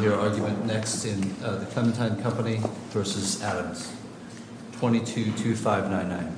22-2599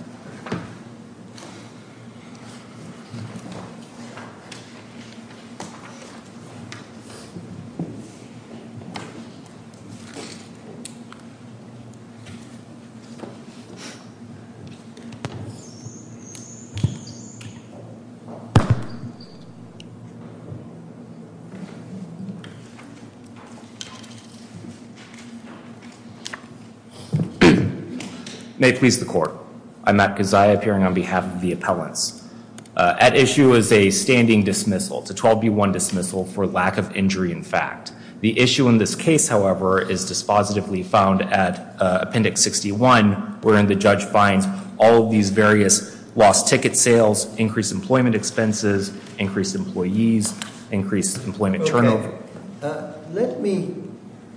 May it please the court. I'm Matt Gaziah, appearing on behalf of the appellants. At issue is a standing dismissal. It's a 12-B-1 dismissal for lack of injury in fact. The issue in this case, however, is dispositively found at Appendix 61, wherein the judge finds all of these various lost ticket sales, increased employment expenses, increased employees, increased employment turnover. Let me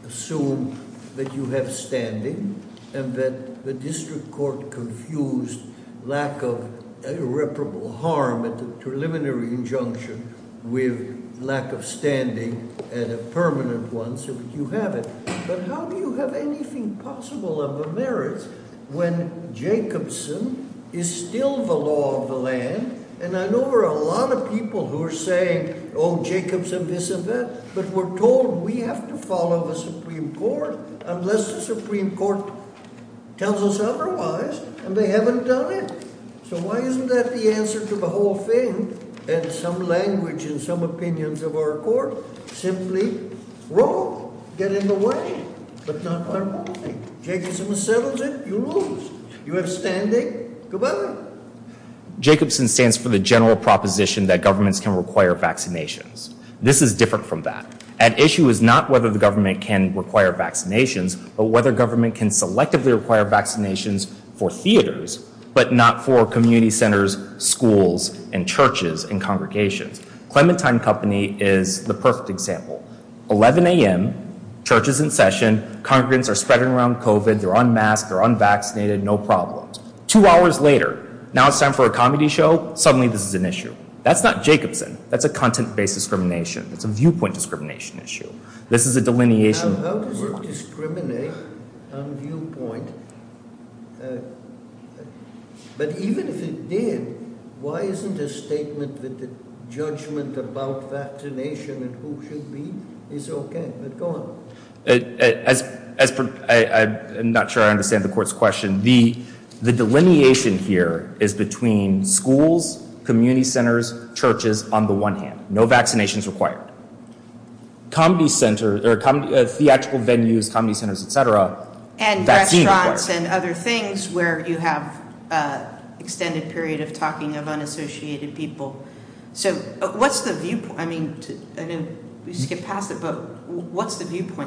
assume that you have standing and that the district court confused lack of irreparable harm at the preliminary injunction with lack of standing at a permanent one, so you have it. But how do you have anything possible of a merit when Jacobson is still the law of the land? And I know there are a lot of people who are saying, oh, Jacobson, this and that, but we're told we have to follow the Supreme Court unless the Supreme Court tells us otherwise, and they haven't done it. So why isn't that the answer to the whole thing and some language and some opinions of our court? Simply, roll, get in the way, but not our money. Jacobson settles it, you lose. You have standing, goodbye. Jacobson stands for the general proposition that governments can require vaccinations. This is different from that. At issue is not whether the government can require vaccinations, but whether government can selectively require vaccinations for theaters, but not for community centers, schools, and churches and congregations. Clementine Company is the perfect example. 11 a.m., church is in session, congregants are spreading around COVID, they're unmasked, they're unvaccinated, no problems. Two hours later, now it's time for a comedy show, suddenly this is an issue. That's not Jacobson. That's a content-based discrimination. It's a viewpoint discrimination issue. This is a delineation. Now, how does it discriminate on viewpoint? But even if it did, why isn't a statement that the judgment about vaccination and who should be is okay? But go on. I'm not sure I understand the court's question. The delineation here is between schools, community centers, churches on the one hand. No vaccinations required. Comedy centers, theatrical venues, comedy centers, etc. And restaurants and other things where you have extended period of talking of unassociated people. What's the viewpoint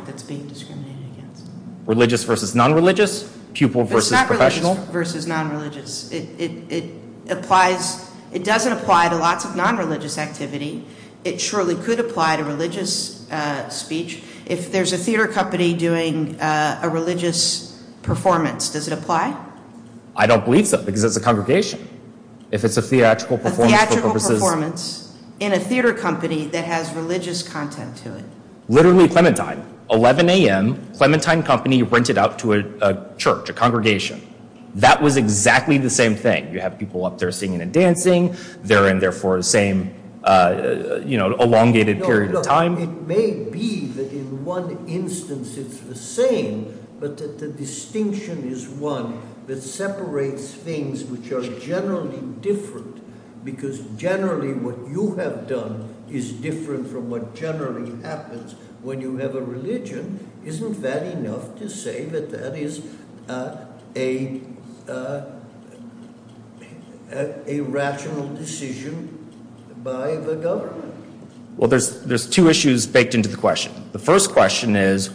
that's being discriminated against? Religious versus non-religious, pupil versus professional. It's not religious versus non-religious. It doesn't apply to lots of non-religious activity. It surely could apply to religious speech. If there's a theater company doing a religious performance, does it apply? I don't believe so because it's a congregation. A theatrical performance in a theater company that has religious content to it. Literally Clementine. 11 a.m. Clementine company rented out to a church, a congregation. That was exactly the same thing. You have people up there singing and dancing. They're in there for the same elongated period of time. It may be that in one instance it's the same. But the distinction is one that separates things which are generally different. Because generally what you have done is different from what generally happens. When you have a religion, isn't that enough to say that that is a rational decision by the government? Well, there's two issues baked into the question. The first question is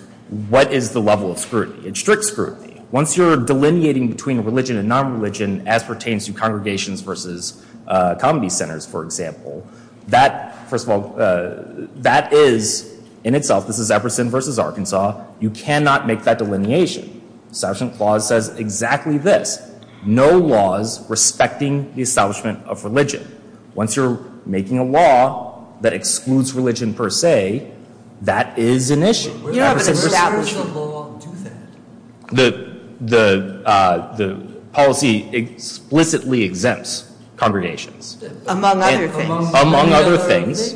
what is the level of scrutiny? It's strict scrutiny. Once you're delineating between religion and non-religion as pertains to congregations versus comedy centers, for example, that is in itself, this is Everson versus Arkansas, you cannot make that delineation. The Establishment Clause says exactly this. No laws respecting the establishment of religion. Once you're making a law that excludes religion per se, that is an issue. Where does the law do that? The policy explicitly exempts congregations. Among other things. Among other things.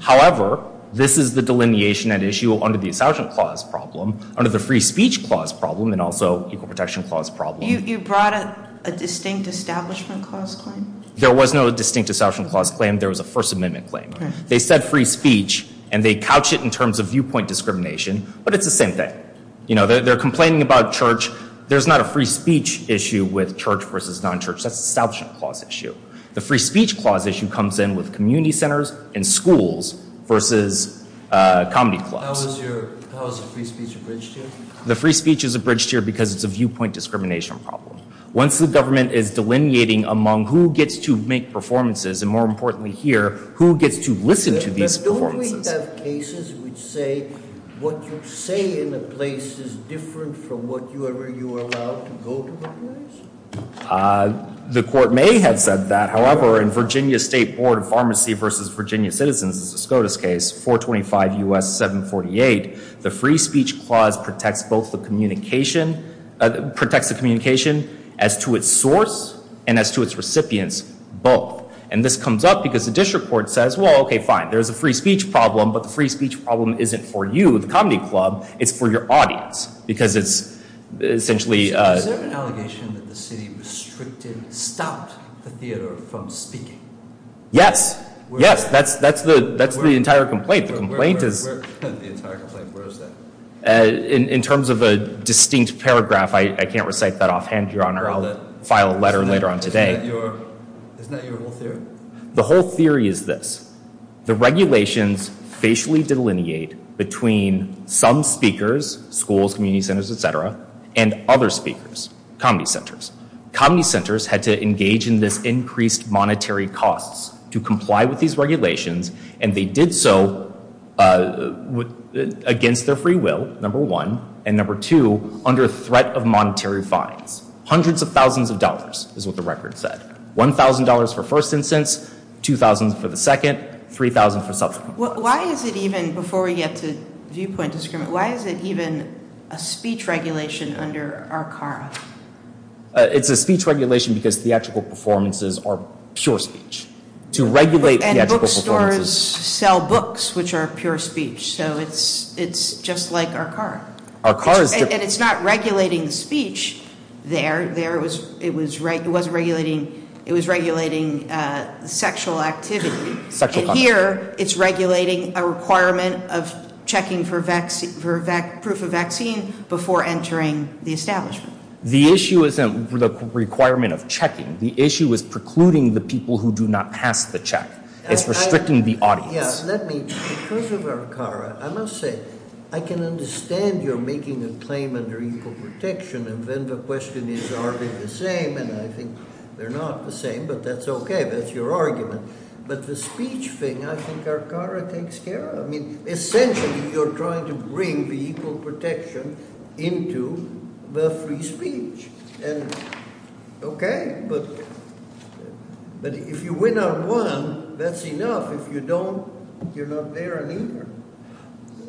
However, this is the delineation at issue under the Establishment Clause problem, under the Free Speech Clause problem, and also Equal Protection Clause problem. You brought a distinct Establishment Clause claim? There was no distinct Establishment Clause claim. There was a First Amendment claim. They said free speech, and they couch it in terms of viewpoint discrimination, but it's the same thing. They're complaining about church. There's not a free speech issue with church versus non-church. That's the Establishment Clause issue. The Free Speech Clause issue comes in with community centers and schools versus comedy clubs. How is the free speech abridged here? The free speech is abridged here because it's a viewpoint discrimination problem. Once the government is delineating among who gets to make performances, and more importantly here, who gets to listen to these performances. Don't we have cases which say what you say in a place is different from whatever you are allowed to go to a place? The court may have said that. However, in Virginia State Board of Pharmacy versus Virginia Citizens, a SCOTUS case, 425 U.S. 748, the Free Speech Clause protects the communication as to its source and as to its recipients both. And this comes up because the district court says, well, okay, fine. There's a free speech problem, but the free speech problem isn't for you, the comedy club. It's for your audience because it's essentially... Is there an allegation that the city restricted, stopped the theater from speaking? Yes. Yes. That's the entire complaint. The entire complaint, where is that? In terms of a distinct paragraph, I can't recite that offhand, Your Honor. I'll file a letter later on today. Isn't that your whole theory? The whole theory is this. The regulations facially delineate between some speakers, schools, community centers, et cetera, and other speakers, comedy centers. Comedy centers had to engage in this increased monetary costs to comply with these regulations, and they did so against their free will, number one, and number two, under threat of monetary fines. Hundreds of thousands of dollars is what the record said. $1,000 for first instance, $2,000 for the second, $3,000 for subsequent. Why is it even, before we get to viewpoint discrimination, why is it even a speech regulation under RCARA? It's a speech regulation because theatrical performances are pure speech. And bookstores sell books, which are pure speech, so it's just like RCARA. RCARA is different. And it's not regulating speech there. It was regulating sexual activity, and here it's regulating a requirement of checking for proof of vaccine before entering the establishment. The issue isn't the requirement of checking. The issue is precluding the people who do not pass the check. It's restricting the audience. Yeah, let me, because of RCARA, I must say, I can understand you're making a claim under equal protection, and then the question is, are they the same? And I think they're not the same, but that's okay. That's your argument. But the speech thing, I think RCARA takes care of. I mean, essentially, you're trying to bring the equal protection into the free speech. Okay, but if you win on one, that's enough. If you don't, you're not there on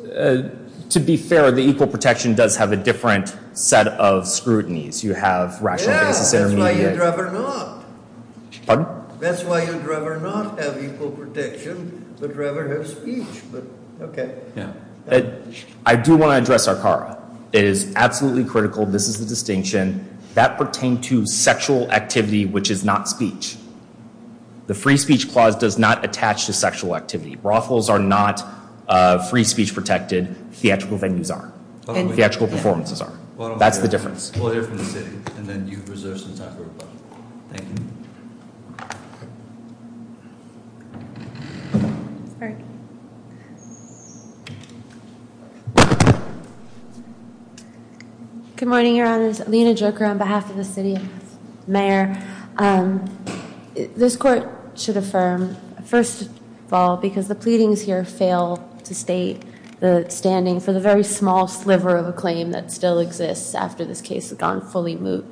either. To be fair, the equal protection does have a different set of scrutinies. You have rational basis intermediates. Yeah, that's why you'd rather not. Pardon? That's why you'd rather not have equal protection, but rather have speech. Okay. Yeah. I do want to address RCARA. It is absolutely critical. This is the distinction. That pertained to sexual activity, which is not speech. The free speech clause does not attach to sexual activity. Brothels are not free speech protected. Theatrical venues are. Theatrical performances are. That's the difference. We'll hear from the city, and then you reserve some time for rebuttal. Thank you. Thank you. Good morning, Your Honors. Lena Joker on behalf of the city mayor. This court should affirm, first of all, because the pleadings here fail to state the standing for the very small sliver of a claim that still exists after this case has gone fully moot.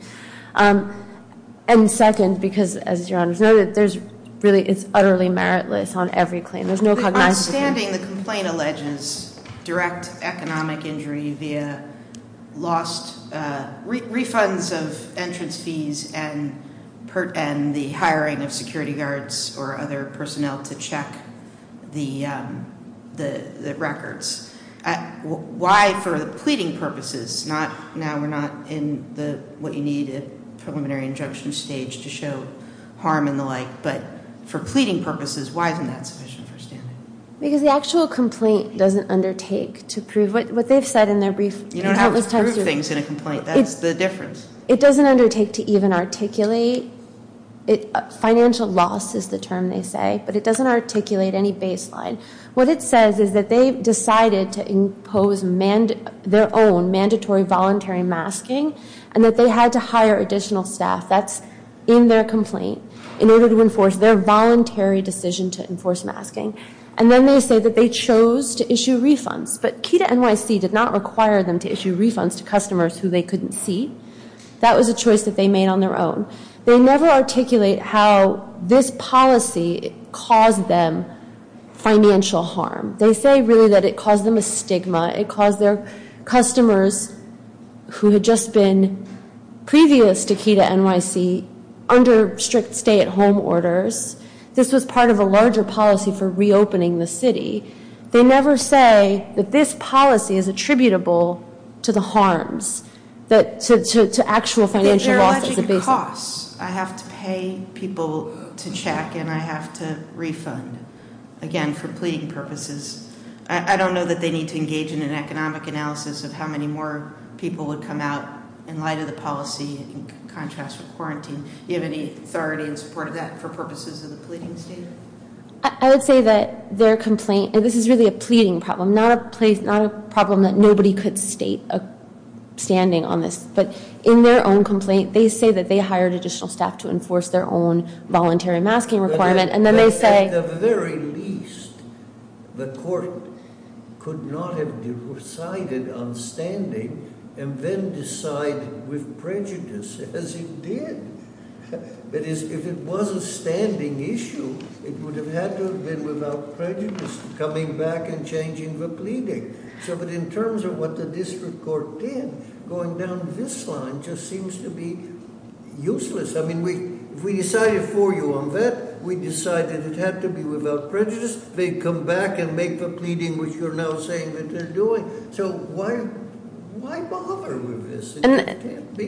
And second, because, as Your Honors noted, there's really, it's utterly meritless on every claim. There's no cognizance of it. Understanding the complaint alleges direct economic injury via lost refunds of entrance fees and the hiring of security guards or other personnel to check the records. Why, for the pleading purposes, not, now we're not in the, what you need a preliminary injunction stage to show harm and the like, but for pleading purposes, why isn't that sufficient for standing? Because the actual complaint doesn't undertake to prove what they've said in their brief. You don't have to prove things in a complaint. That's the difference. It doesn't undertake to even articulate. Financial loss is the term they say, but it doesn't articulate any baseline. What it says is that they decided to impose their own mandatory voluntary masking and that they had to hire additional staff, that's in their complaint, in order to enforce their voluntary decision to enforce masking. And then they say that they chose to issue refunds, but KEDA NYC did not require them to issue refunds to customers who they couldn't see. That was a choice that they made on their own. They never articulate how this policy caused them financial harm. They say really that it caused them a stigma, it caused their customers who had just been previous to KEDA NYC, under strict stay-at-home orders, this was part of a larger policy for reopening the city. They never say that this policy is attributable to the harms, to actual financial losses. They're alluding to costs. I have to pay people to check and I have to refund. Again, for pleading purposes. I don't know that they need to engage in an economic analysis of how many more people would come out in light of the policy in contrast with quarantine. Do you have any authority in support of that for purposes of the pleading state? I would say that their complaint, and this is really a pleading problem, not a problem that nobody could state standing on this, but in their own complaint, they say that they hired additional staff to enforce their own voluntary masking requirement, and then they say- At the very least, the court could not have decided on standing and then decide with prejudice as it did. If it was a standing issue, it would have had to have been without prejudice coming back and changing the pleading. In terms of what the district court did, going down this line just seems to be useless. If we decided for you on that, we decided it had to be without prejudice. They come back and make the pleading which you're now saying that they're doing. Why bother with this?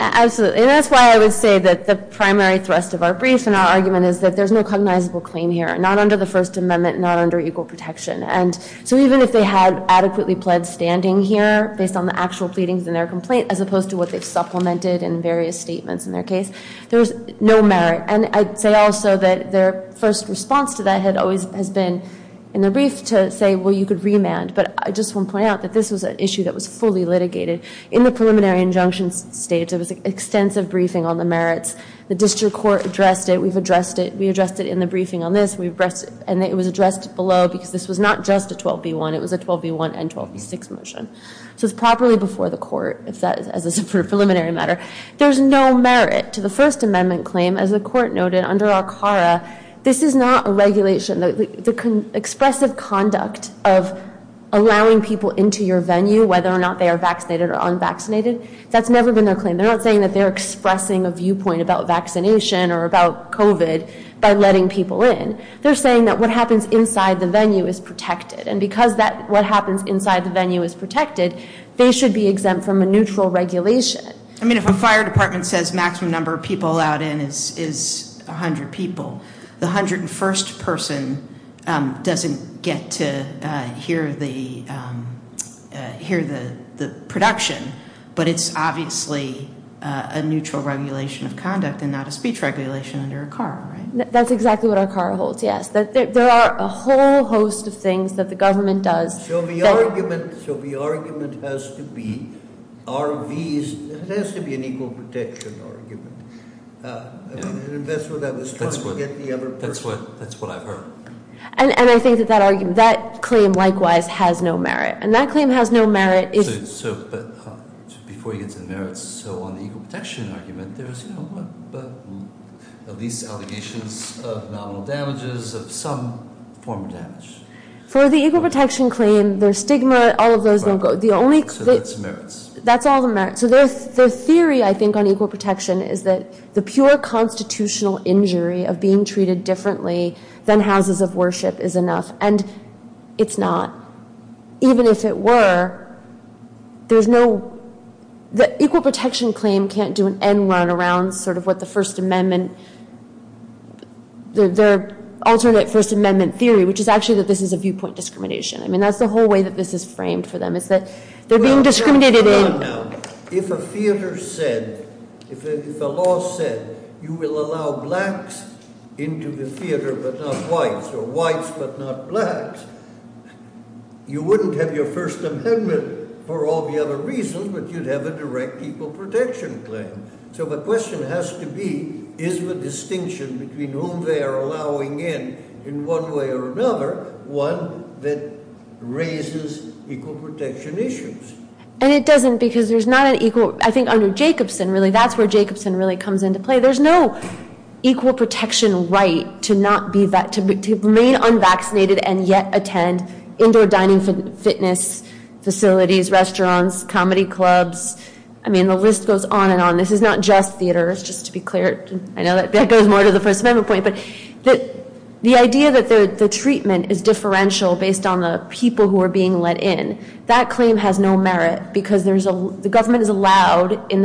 Absolutely. That's why I would say that the primary thrust of our brief and our argument is that there's no cognizable claim here, not under the First Amendment, not under equal protection. Even if they had adequately pled standing here based on the actual pleadings in their complaint as opposed to what they've supplemented in various statements in their case, there's no merit. I'd say also that their first response to that has always been in the brief to say, well, you could remand, but I just want to point out that this was an issue that was fully litigated. In the preliminary injunction state, there was extensive briefing on the merits. The district court addressed it. We've addressed it. We addressed it in the briefing on this. And it was addressed below because this was not just a 12B1. It was a 12B1 and 12B6 motion. So it's properly before the court as a preliminary matter. There's no merit to the First Amendment claim. As the court noted under ACARA, this is not a regulation. The expressive conduct of allowing people into your venue, whether or not they are vaccinated or unvaccinated, that's never been their claim. They're not saying that they're expressing a viewpoint about vaccination or about COVID by letting people in. They're saying that what happens inside the venue is protected. And because what happens inside the venue is protected, they should be exempt from a neutral regulation. I mean, if a fire department says maximum number of people allowed in is 100 people, the 101st person doesn't get to hear the production. But it's obviously a neutral regulation of conduct and not a speech regulation under ACARA, right? That's exactly what ACARA holds, yes. There are a whole host of things that the government does. So the argument has to be RVs. It has to be an equal protection argument. An investor that was trying to get the other person. That's what I've heard. And I think that that claim likewise has no merit. And that claim has no merit. But before you get to the merits, so on the equal protection argument, there's at least allegations of nominal damages, of some form of damage. For the equal protection claim, there's stigma. All of those don't go. So that's the merits. That's all the merits. So their theory, I think, on equal protection is that the pure constitutional injury of being treated differently than houses of worship is enough. And it's not. Even if it were, there's no – the equal protection claim can't do an end run around sort of what the First Amendment – their alternate First Amendment theory, which is actually that this is a viewpoint discrimination. I mean, that's the whole way that this is framed for them, is that they're being discriminated in. If a theater said – if a law said you will allow blacks into the theater but not whites or whites but not blacks, you wouldn't have your First Amendment for all the other reasons, but you'd have a direct equal protection claim. So the question has to be, is the distinction between whom they are allowing in, in one way or another, one that raises equal protection issues? And it doesn't because there's not an equal – I think under Jacobson, really, that's where Jacobson really comes into play. There's no equal protection right to not be – to remain unvaccinated and yet attend indoor dining fitness facilities, restaurants, comedy clubs. I mean, the list goes on and on. This is not just theaters, just to be clear. I know that goes more to the First Amendment point. But the idea that the treatment is differential based on the people who are being let in, that claim has no merit because there's a – the government is allowed, in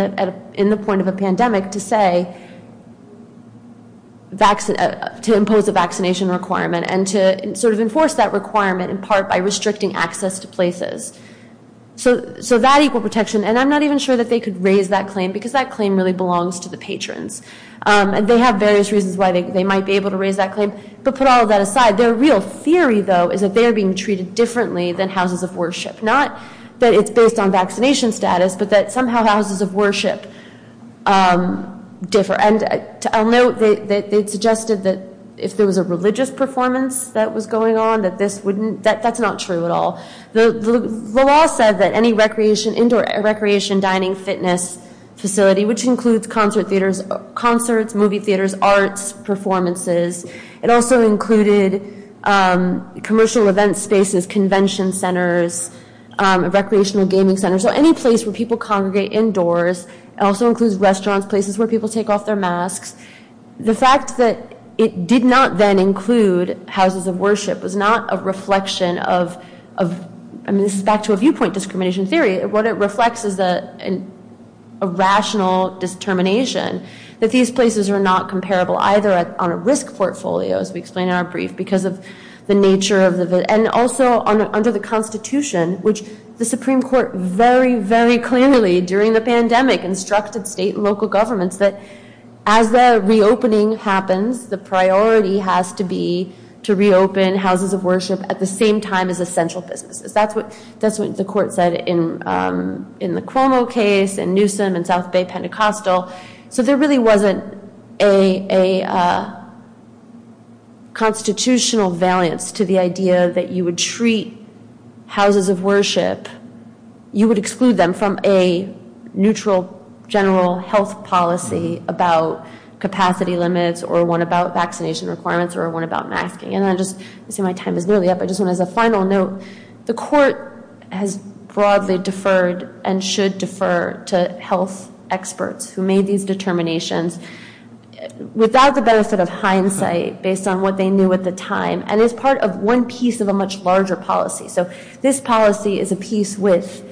the point of a pandemic, to say – to impose a vaccination requirement and to sort of enforce that requirement in part by restricting access to places. So that equal protection – and I'm not even sure that they could raise that claim because that claim really belongs to the patrons. And they have various reasons why they might be able to raise that claim. But put all of that aside, their real theory, though, is that they are being treated differently than houses of worship, not that it's based on vaccination status, but that somehow houses of worship differ. And I'll note that they suggested that if there was a religious performance that was going on, that this wouldn't – that's not true at all. The law said that any recreation – indoor recreation, dining, fitness facility, which includes concert theaters – concerts, movie theaters, arts, performances. It also included commercial event spaces, convention centers, recreational gaming centers. So any place where people congregate indoors. It also includes restaurants, places where people take off their masks. The fact that it did not then include houses of worship was not a reflection of – I mean, this is back to a viewpoint discrimination theory. What it reflects is a rational determination that these places are not comparable, either on a risk portfolio, as we explained in our brief, because of the nature of the – and also under the Constitution, which the Supreme Court very, very clearly during the pandemic instructed state and local governments that as the reopening happens, the priority has to be to reopen houses of worship at the same time as essential businesses. That's what the court said in the Cuomo case, in Newsom, in South Bay Pentecostal. So there really wasn't a constitutional valiance to the idea that you would treat houses of worship – you would exclude them from a neutral general health policy about capacity limits or one about vaccination requirements or one about masking. And I just – I see my time is nearly up. I just want to, as a final note, the court has broadly deferred and should defer to health experts who made these determinations without the benefit of hindsight based on what they knew at the time and as part of one piece of a much larger policy. So this policy is a piece with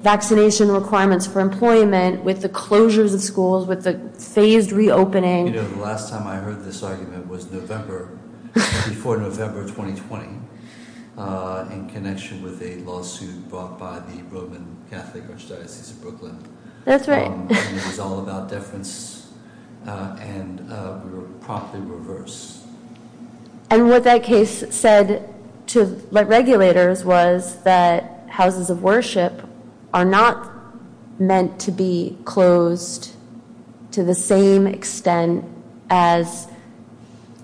vaccination requirements for employment, with the closures of schools, with the phased reopening. You know, the last time I heard this argument was November – before November 2020 in connection with a lawsuit brought by the Roman Catholic Archdiocese of Brooklyn. That's right. And it was all about deference, and we were promptly reversed. And what that case said to regulators was that houses of worship are not meant to be closed to the same extent as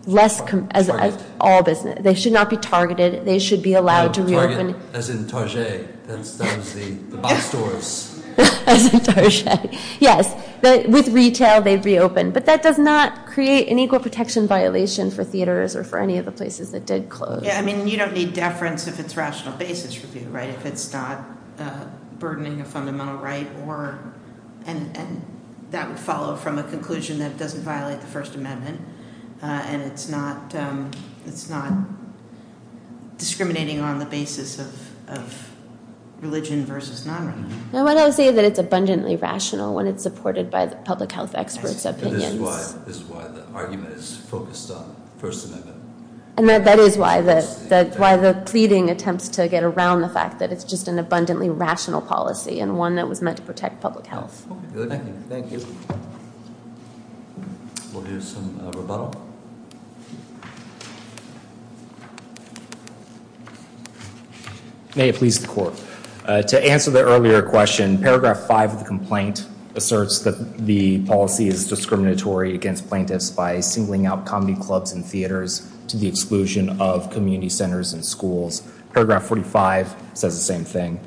less – as all business. They should not be targeted. They should be allowed to reopen. As in Target. That was the box stores. As in Target, yes. With retail, they'd reopen. But that does not create an equal protection violation for theaters or for any of the places that did close. Yeah, I mean, you don't need deference if it's rational basis review, right, if it's not burdening a fundamental right or – and that would follow from a conclusion that it doesn't violate the First Amendment and it's not discriminating on the basis of religion versus non-religion. No, I would say that it's abundantly rational when it's supported by the public health experts' opinions. This is why the argument is focused on the First Amendment. And that is why the pleading attempts to get around the fact that it's just an abundantly rational policy and one that was meant to protect public health. Thank you. Thank you. We'll do some rebuttal. May it please the court. To answer the earlier question, paragraph 5 of the complaint asserts that the policy is discriminatory against plaintiffs by singling out comedy clubs and theaters to the exclusion of community centers and schools. Paragraph 45 says the same thing.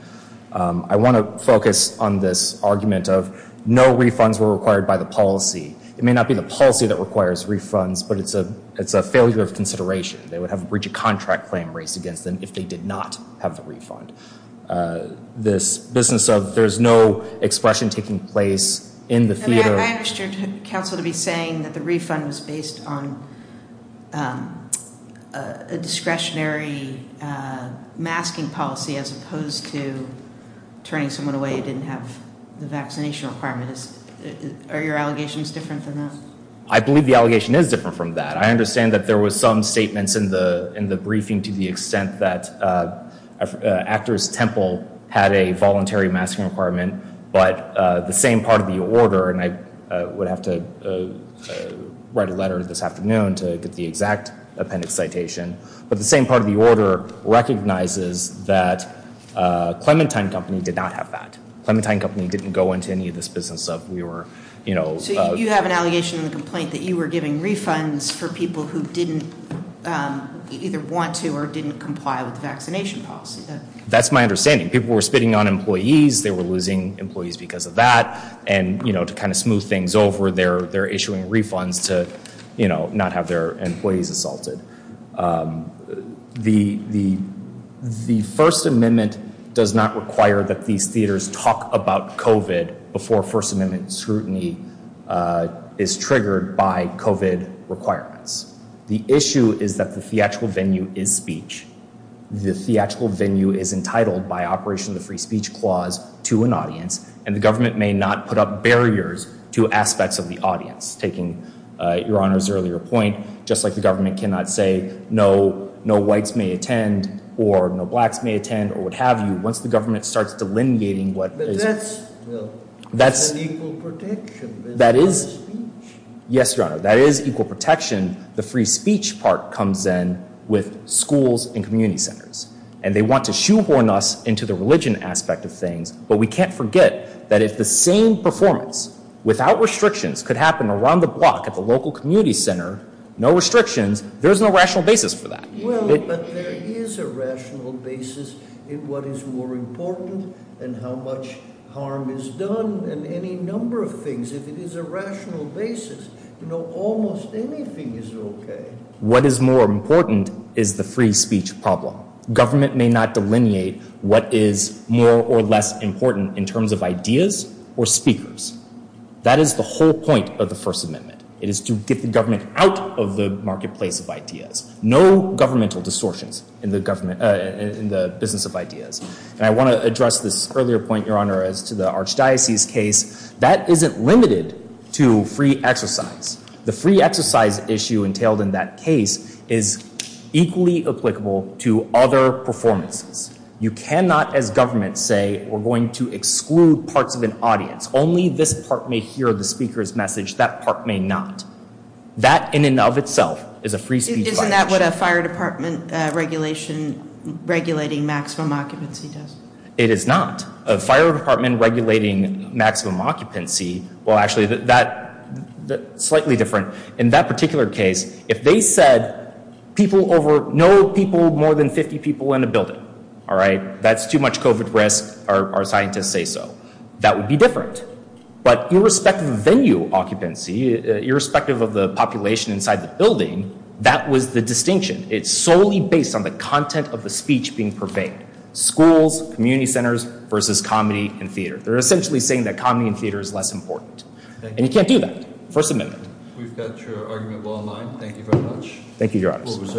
I want to focus on this argument of no refunds were required by the policy. It may not be the policy that requires refunds, but it's a failure of consideration. They would have a breach of contract claim raised against them if they did not have the refund. This business of there's no expression taking place in the theater. I understood counsel to be saying that the refund was based on. Discretionary masking policy as opposed to turning someone away. Didn't have the vaccination requirements. Are your allegations different than that? I believe the allegation is different from that. I understand that there was some statements in the in the briefing to the extent that Temple had a voluntary masking requirement, but the same part of the order, and I would have to write a letter this afternoon to get the exact appendix citation. But the same part of the order recognizes that Clementine Company did not have that. Clementine Company didn't go into any of this business of we were, you know, you have an allegation in the complaint that you were giving refunds for people who didn't either want to get vaccinated or didn't comply with the vaccination policy. That's my understanding. People were spitting on employees. They were losing employees because of that. And, you know, to kind of smooth things over there, they're issuing refunds to, you know, not have their employees assaulted. The the the First Amendment does not require that these theaters talk about The theatrical venue is entitled by operation of the free speech clause to an audience, and the government may not put up barriers to aspects of the audience. Taking your honor's earlier point, just like the government cannot say no, no whites may attend or no blacks may attend or what have you. Once the government starts delineating what that's that's that is. Yes, your honor. That is equal protection. The free speech part comes in with schools and community centers, and they want to shoehorn us into the religion aspect of things. But we can't forget that if the same performance without restrictions could happen around the block at the local community center, no restrictions, there is no rational basis for that. But there is a rational basis in what is more important than how much harm is done and any number of things. If it is a rational basis, you know, almost anything is OK. What is more important is the free speech problem. Government may not delineate what is more or less important in terms of ideas or speakers. That is the whole point of the First Amendment. It is to get the government out of the marketplace of ideas. No governmental distortions in the government, in the business of ideas. And I want to address this earlier point, your honor, as to the archdiocese case. That isn't limited to free exercise. The free exercise issue entailed in that case is equally applicable to other performances. You cannot, as government, say we're going to exclude parts of an audience. Only this part may hear the speaker's message. That part may not. That in and of itself is a free speech violation. Isn't that what a fire department regulation regulating maximum occupancy does? It is not. A fire department regulating maximum occupancy, well, actually, that's slightly different. In that particular case, if they said people over, no people more than 50 people in a building, all right, that's too much COVID risk, our scientists say so. That would be different. But irrespective of venue occupancy, irrespective of the population inside the building, that was the distinction. It's solely based on the content of the speech being purveyed. Schools, community centers versus comedy and theater. They're essentially saying that comedy and theater is less important. And you can't do that. First amendment. We've got your argument well in line. Thank you very much. Thank you, your honors.